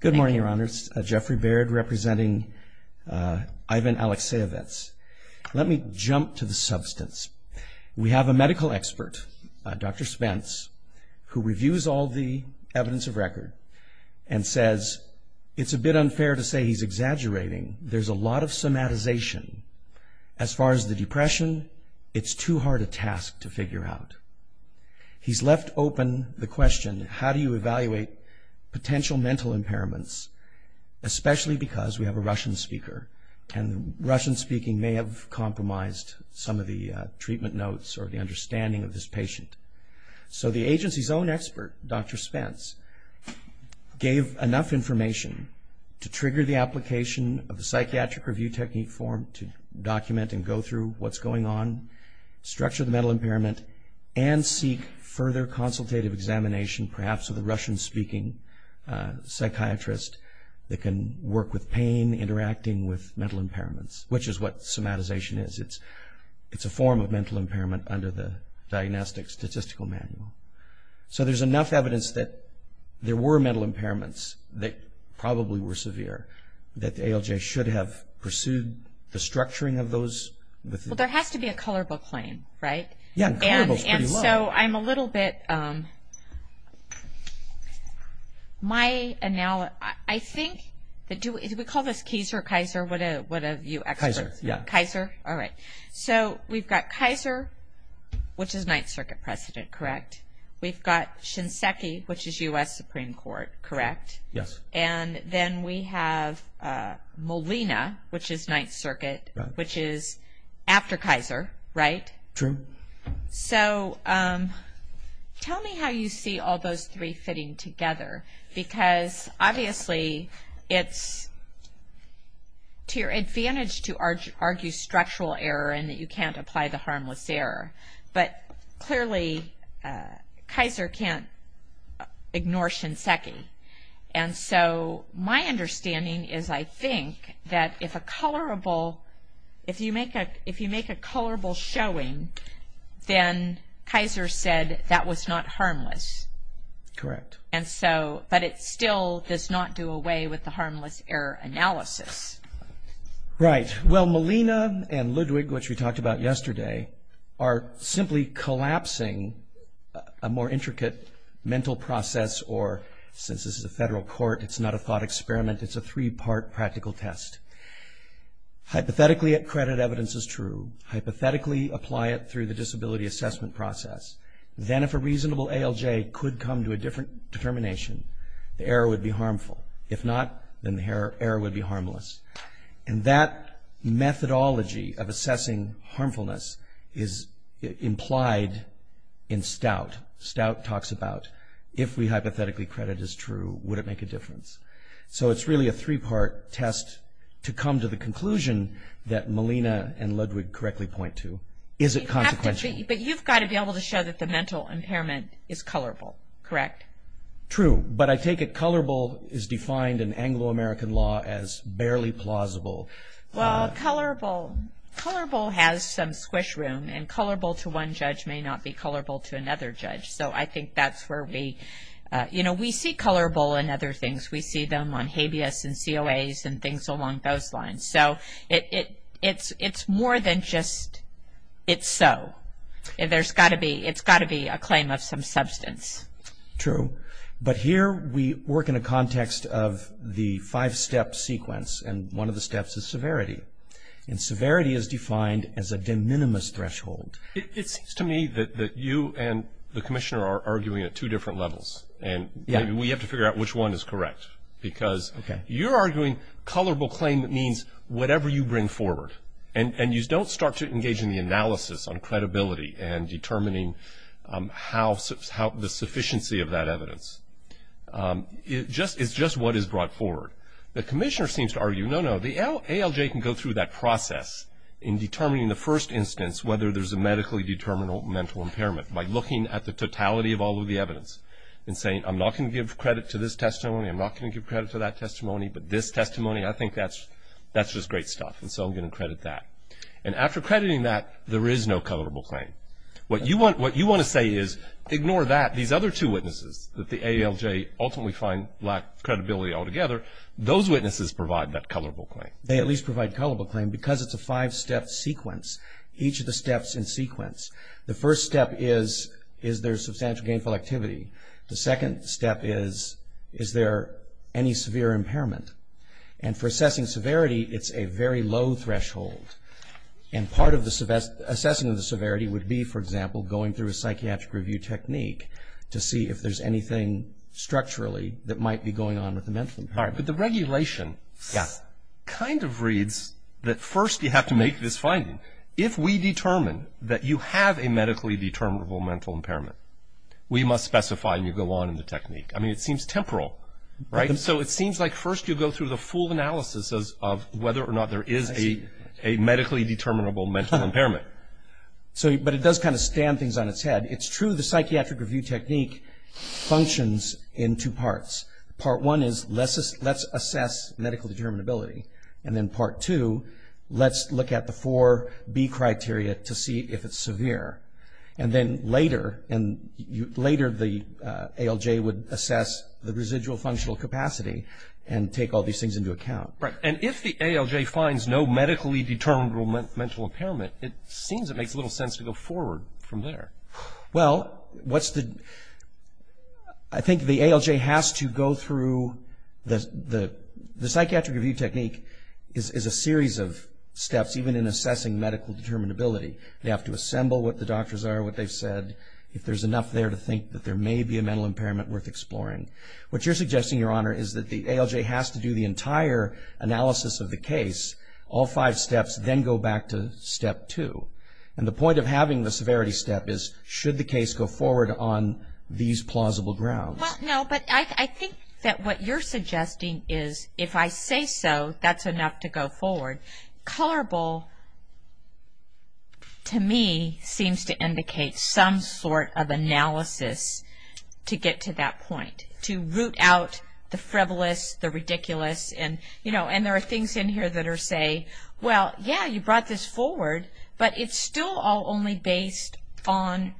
Good morning, Your Honors. Jeffrey Baird representing Ivan Alekseyevets. Let me jump to the substance. We have a medical expert, Dr. Spence, who reviews all the evidence of record and says it's a bit unfair to say he's exaggerating. There's a lot of somatization. As far as the depression, it's too hard a task to figure out. He's left open the question, how do you especially because we have a Russian speaker, and Russian speaking may have compromised some of the treatment notes or the understanding of this patient. So the agency's own expert, Dr. Spence, gave enough information to trigger the application of the psychiatric review technique form to document and go through what's going on, structure the mental impairment, and seek further consultative examination, perhaps with a Russian speaking psychiatrist that can work with pain, interacting with mental impairments, which is what somatization is. It's a form of mental impairment under the Diagnostic Statistical Manual. So there's enough evidence that there were mental impairments that probably were severe that the ALJ should have pursued the structuring of those. Well, there has to be a color book claim, right? Yeah, color book's pretty low. And so I'm a little bit, my, I think, do we call this Kaiser? What are you experts? Kaiser, yeah. Kaiser, all right. So we've got Kaiser, which is 9th Circuit President, correct? We've got Shinseki, which is U.S. Supreme Court, correct? Yes. And then we have Molina, which is 9th Circuit, which is after Kaiser, right? True. So tell me how you see all those three fitting together, because obviously it's to your advantage to argue structural error and that you can't apply the harmless error, but clearly Kaiser can't ignore Shinseki. And so my understanding is, I think, that if a colorable, if you make a colorable showing, then Kaiser said that was not harmless. Correct. And so, but it still does not do away with the harmless error analysis. Right. Well, Molina and Ludwig, which we talked about yesterday, are simply collapsing a more intricate mental process or, since this is a federal court, it's not a thought experiment, it's a three-part practical test. Hypothetically, at credit, evidence is true. Hypothetically, apply it through the disability assessment process. Then, if a reasonable ALJ could come to a different determination, the error would be harmful. If not, then the error would be what it talks about. If we hypothetically credit as true, would it make a difference? So it's really a three-part test to come to the conclusion that Molina and Ludwig correctly point to. Is it consequential? But you've got to be able to show that the mental impairment is colorable, correct? True. But I take it colorable is defined in Anglo-American law as barely plausible. Well, colorable has some squish room, and colorable to one judge may not be colorable to another judge. So I think that's where we, you know, we see colorable in other things. We see them on habeas and COAs and things along those lines. So it's more than just it's so. There's got to be, it's got to be a claim of some substance. True. But here we work in a context of the five-step sequence, and one of the steps is severity. And severity is defined as a de minimis threshold. It seems to me that you and the commissioner are arguing at two different levels, and we have to figure out which one is correct. Because you're arguing colorable claim means whatever you bring forward. And you don't start to engage in the analysis on credibility and determining how, the sufficiency of that evidence. It's just what is brought forward. The commissioner seems to argue, no, no, the ALJ can go through that process in determining the first instance whether there's a medically determinable mental impairment by looking at the totality of all of the evidence and saying, I'm not going to give credit to this testimony. I'm not going to give credit to that testimony. But this testimony, I think that's just great stuff. And so I'm going to credit that. And after crediting that, there is no colorable claim. What you want to say is, ignore that. These other two witnesses that the ALJ ultimately find lack credibility altogether, those witnesses provide that colorable claim. They at least provide colorable claim because it's a five-step sequence, each of the steps in sequence. The first step is, is there substantial gainful activity? The second step is, is there any severe impairment? And for assessing severity, it's a very low threshold. And part of assessing the severity would be, for example, going through a psychiatric review technique to see if there's anything structurally that might be going on with the mental impairment. But the regulation kind of reads that first you have to make this finding. If we determine that you have a medically determinable mental impairment, we must specify and you go on in the technique. I mean, it seems temporal, right? So it seems like first you go through the full analysis of whether or not there is a medically determinable mental impairment. But it does kind of stand things on its head. It's true the psychiatric review technique functions in two parts. Part one is let's assess medical determinability. And then part two, let's look at the 4B criteria to see if it's severe. And then later, the ALJ would assess the residual functional capacity and take all these things into account. Right. And if the ALJ finds no medically determinable mental impairment, it seems it makes little sense to go forward from there. Well, I think the ALJ has to go through the psychiatric review technique is a series of steps even in assessing medical determinability. They have to assemble what the doctors are, what they've said, if there's enough there to think that there may be a mental impairment worth exploring. What you're suggesting, Your Honor, is that the ALJ has to do the entire analysis of the case, all five steps, then go back to step two. And the point of having the severity step is should the case go forward on these plausible grounds? Well, no, but I think that what you're suggesting is if I say so, that's enough to go forward. Colorable, to me, seems to indicate some sort of analysis to get to that point, to root out the frivolous, the ridiculous. And there are things in here that are say, well, yeah, you brought this forward, but it's still all only based on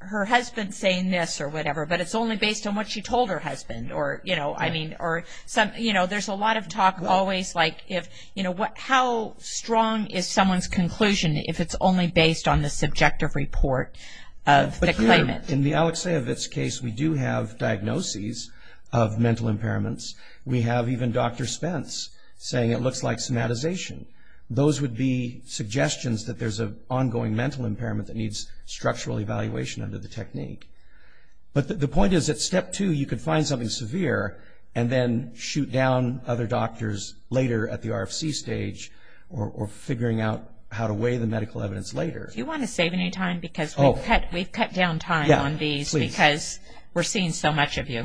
her husband saying this or whatever, but it's only based on what she told her husband. There's a lot of talk always like how strong is someone's conclusion if it's only based on the subjective report of the claimant? In the Alexeyevitz case, we do have diagnoses of mental impairments. We have even Dr. Spence saying it looks like somatization. Those would be suggestions that there's an ongoing mental impairment that needs structural evaluation under the technique. But the point is that step two, you could find something severe and then shoot down other doctors later at the RFC stage or figuring out how to weigh the medical evidence later. Do you want to save any time? Because we've cut down time on these because we're seeing so much of you.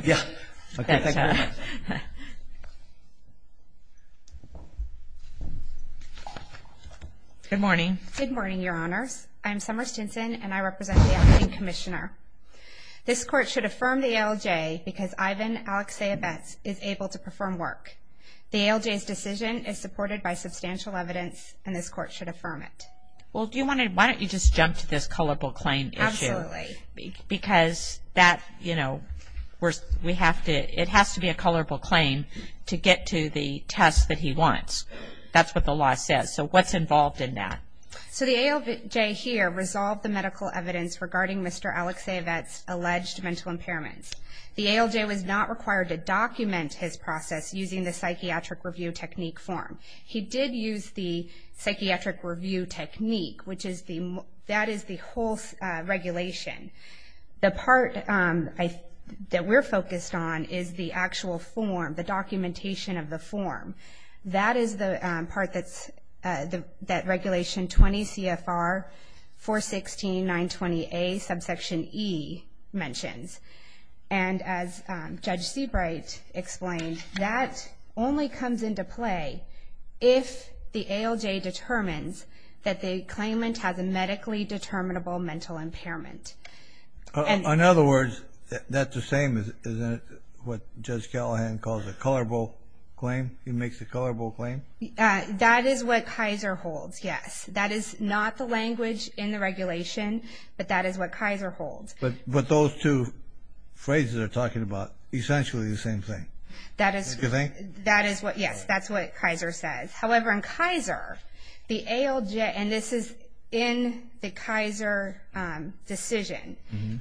Good morning. Good morning, Your Honors. I'm Summer Stinson, and I represent the ALJ Commissioner. This court should affirm the ALJ because Ivan Alexeyevitz is able to perform work. The ALJ's decision is supported by substantial evidence, and this court should affirm it. Well, why don't you just jump to this colorable claim issue? Absolutely. Because it has to be a colorable claim to get to the test that he wants. That's what the law says. So what's involved in that? So the ALJ here resolved the medical evidence regarding Mr. Alexeyevitz's alleged mental impairments. The ALJ was not required to document his process using the psychiatric review technique form. He did use the psychiatric review technique, which is the, that is the whole regulation. The part that we're focused on is the actual form, the documentation of the form. That is the part that regulation 20 CFR 416.920A subsection E mentions. And as Judge Seabright explained, that only comes into play if the ALJ determines that the claimant has a medically determinable mental impairment. In other words, that's the same as what Judge Callahan calls a colorable claim? He makes a colorable claim? That is what Kaiser holds, yes. That is not the language in the regulation, but that is what Kaiser holds. But those two phrases are talking about essentially the same thing. That is what, yes, that's what Kaiser says. However, in Kaiser, the ALJ, and this is in the Kaiser decision,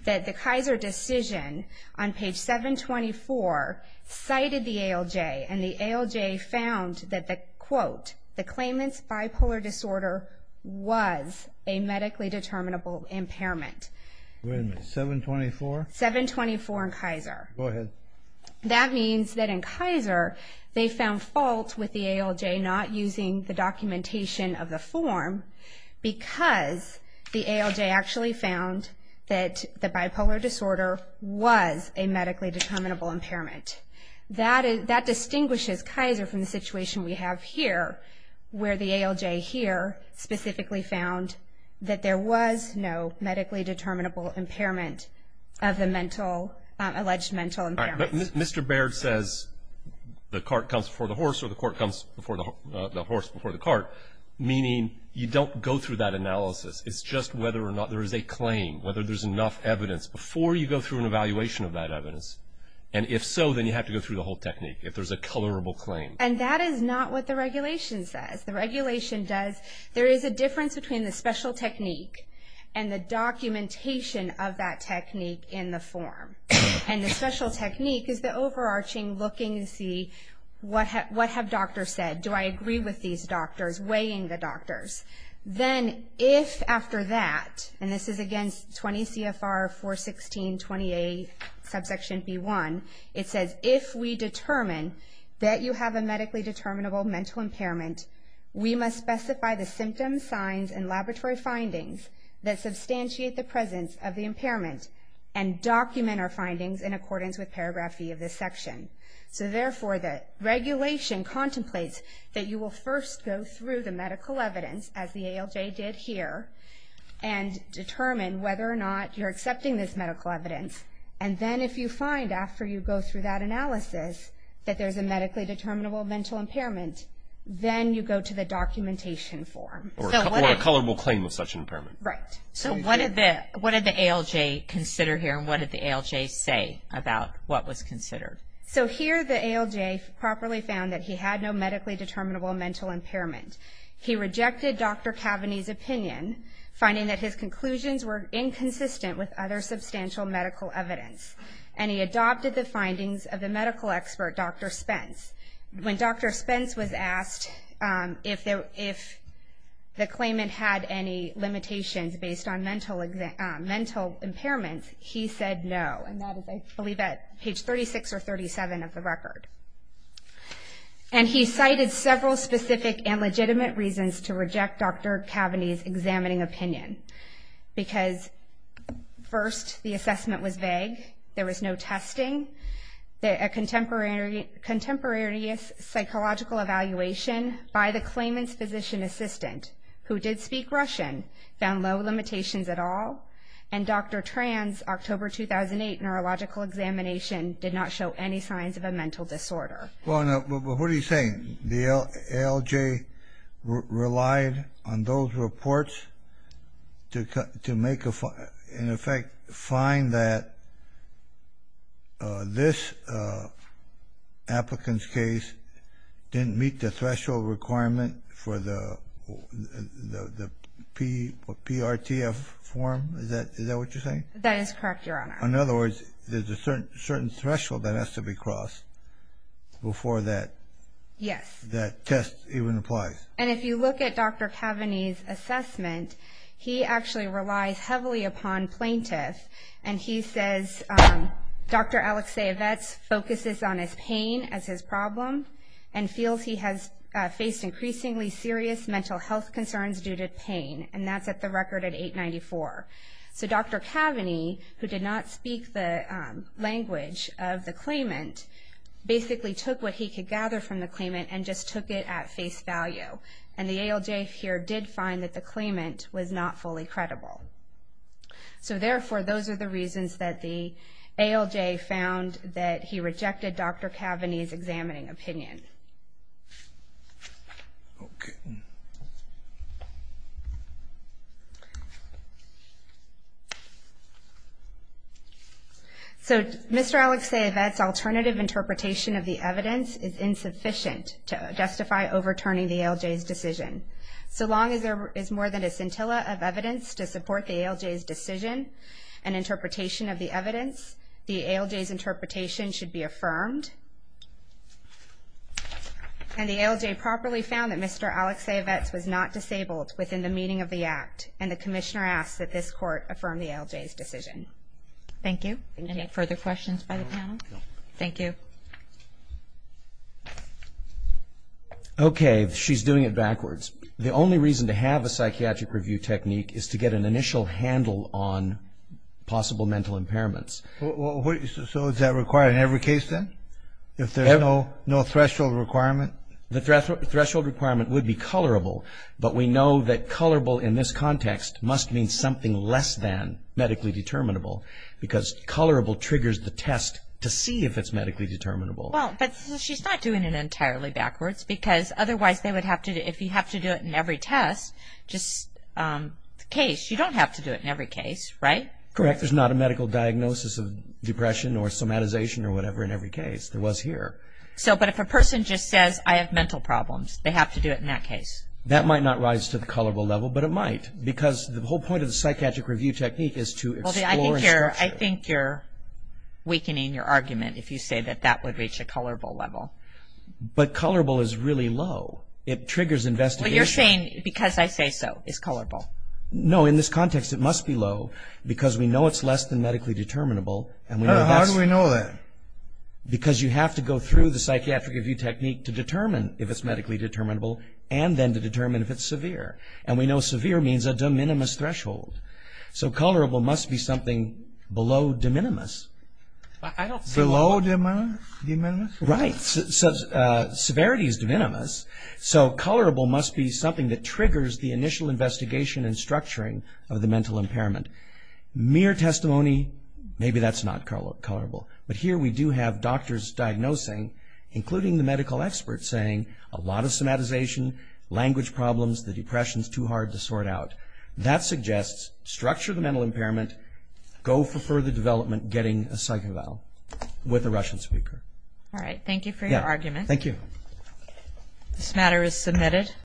that the Kaiser decision on page 724 cited the ALJ, and the ALJ found that the quote, the claimant's bipolar disorder was a medically determinable impairment. Wait a minute, 724? 724 in Kaiser. Go ahead. That means that in Kaiser, they found fault with the ALJ not using the documentation of the form because the ALJ actually found that the bipolar disorder was a medically determinable impairment. That distinguishes Kaiser from the situation we have here where the ALJ here specifically found that there was no medically determinable impairment of the mental, alleged mental impairment. All right, but Mr. Baird says the cart comes before the horse or the horse before the cart, meaning you don't go through that analysis. It's just whether or not there is a claim, whether there's enough evidence before you go through an evaluation of that evidence. And if so, then you have to go through the whole technique if there's a colorable claim. And that is not what the regulation says. The regulation does, there is a difference between the special technique and the documentation of that technique in the form. And the special technique is the overarching looking to see what have doctors said? Do I agree with these doctors, weighing the doctors? Then if after that, and this is against 20 CFR 416.28, subsection B1, it says if we determine that you have a medically determinable mental impairment, we must specify the symptoms, signs, and laboratory findings that substantiate the presence of the impairment and document our findings in accordance with paragraph B of this section. So therefore, the regulation contemplates that you will first go through the medical evidence, as the ALJ did here, and determine whether or not you're accepting this medical evidence. And then if you find, after you go through that analysis, that there's a medically determinable mental impairment, then you go to the documentation form. Or a colorable claim of such an impairment. Right. So what did the ALJ consider here, and what did the ALJ say about what was considered? So here the ALJ properly found that he had no medically determinable mental impairment. He rejected Dr. Cavaney's opinion, finding that his conclusions were inconsistent with other substantial medical evidence. And he adopted the findings of the medical expert, Dr. Spence. When Dr. Spence was asked if the claimant had any limitations based on mental impairments, he said no. And that is, I believe, at page 36 or 37 of the record. And he cited several specific and legitimate reasons to reject Dr. Cavaney's examining opinion. Because, first, the assessment was vague. There was no testing. A contemporaneous psychological evaluation by the claimant's physician assistant, who did speak Russian, found no limitations at all. And Dr. Tran's October 2008 neurological examination did not show any signs of a mental disorder. Well, now, what are you saying? The ALJ relied on those reports to make a, in effect, find that this applicant's case didn't meet the threshold requirement for the PRTF form? Is that what you're saying? That is correct, Your Honor. In other words, there's a certain threshold that has to be crossed before that test even applies. And if you look at Dr. Cavaney's assessment, he actually relies heavily upon plaintiffs. And he says Dr. Alexievitz focuses on his pain as his problem and feels he has faced increasingly serious mental health concerns due to pain. And that's at the record at 894. So Dr. Cavaney, who did not speak the language of the claimant, basically took what he could gather from the claimant and just took it at face value. And the ALJ here did find that the claimant was not fully credible. So, therefore, those are the reasons that the ALJ found that he rejected Dr. Cavaney's examining opinion. Okay. So Mr. Alexievitz's alternative interpretation of the evidence is insufficient to justify overturning the ALJ's decision. So long as there is more than a scintilla of evidence to support the ALJ's decision and interpretation of the evidence, the ALJ's interpretation should be affirmed. And the ALJ properly found that Mr. Alexievitz was not disabled within the meaning of the act. And the commissioner asks that this court affirm the ALJ's decision. Thank you. Any further questions by the panel? No. Thank you. Okay. She's doing it backwards. The only reason to have a psychiatric review technique is to get an initial handle on possible mental impairments. So is that required in every case then? If there's no threshold requirement? The threshold requirement would be colorable. But we know that colorable in this context must mean something less than medically determinable because colorable triggers the test to see if it's medically determinable. Well, but she's not doing it entirely backwards because otherwise they would have to if you have to do it in every test, just the case. You don't have to do it in every case, right? Correct. There's not a medical diagnosis of depression or somatization or whatever in every case. There was here. But if a person just says, I have mental problems, they have to do it in that case. That might not rise to the colorable level, but it might because the whole point of the psychiatric review technique is to explore and structure. I think you're weakening your argument if you say that that would reach a colorable level. But colorable is really low. It triggers investigation. What you're saying, because I say so, is colorable. No, in this context it must be low because we know it's less than medically determinable. How do we know that? Because you have to go through the psychiatric review technique to determine if it's medically determinable and then to determine if it's severe. And we know severe means a de minimis threshold. So colorable must be something below de minimis. Below de minimis? Right. Severity is de minimis, so colorable must be something that triggers the initial investigation and structuring of the mental impairment. Mere testimony, maybe that's not colorable. But here we do have doctors diagnosing, including the medical experts, saying a lot of somatization, language problems, the depression is too hard to sort out. That suggests structure the mental impairment, go for further development getting a psych eval with a Russian speaker. All right. Thank you for your argument. Thank you. This matter is submitted.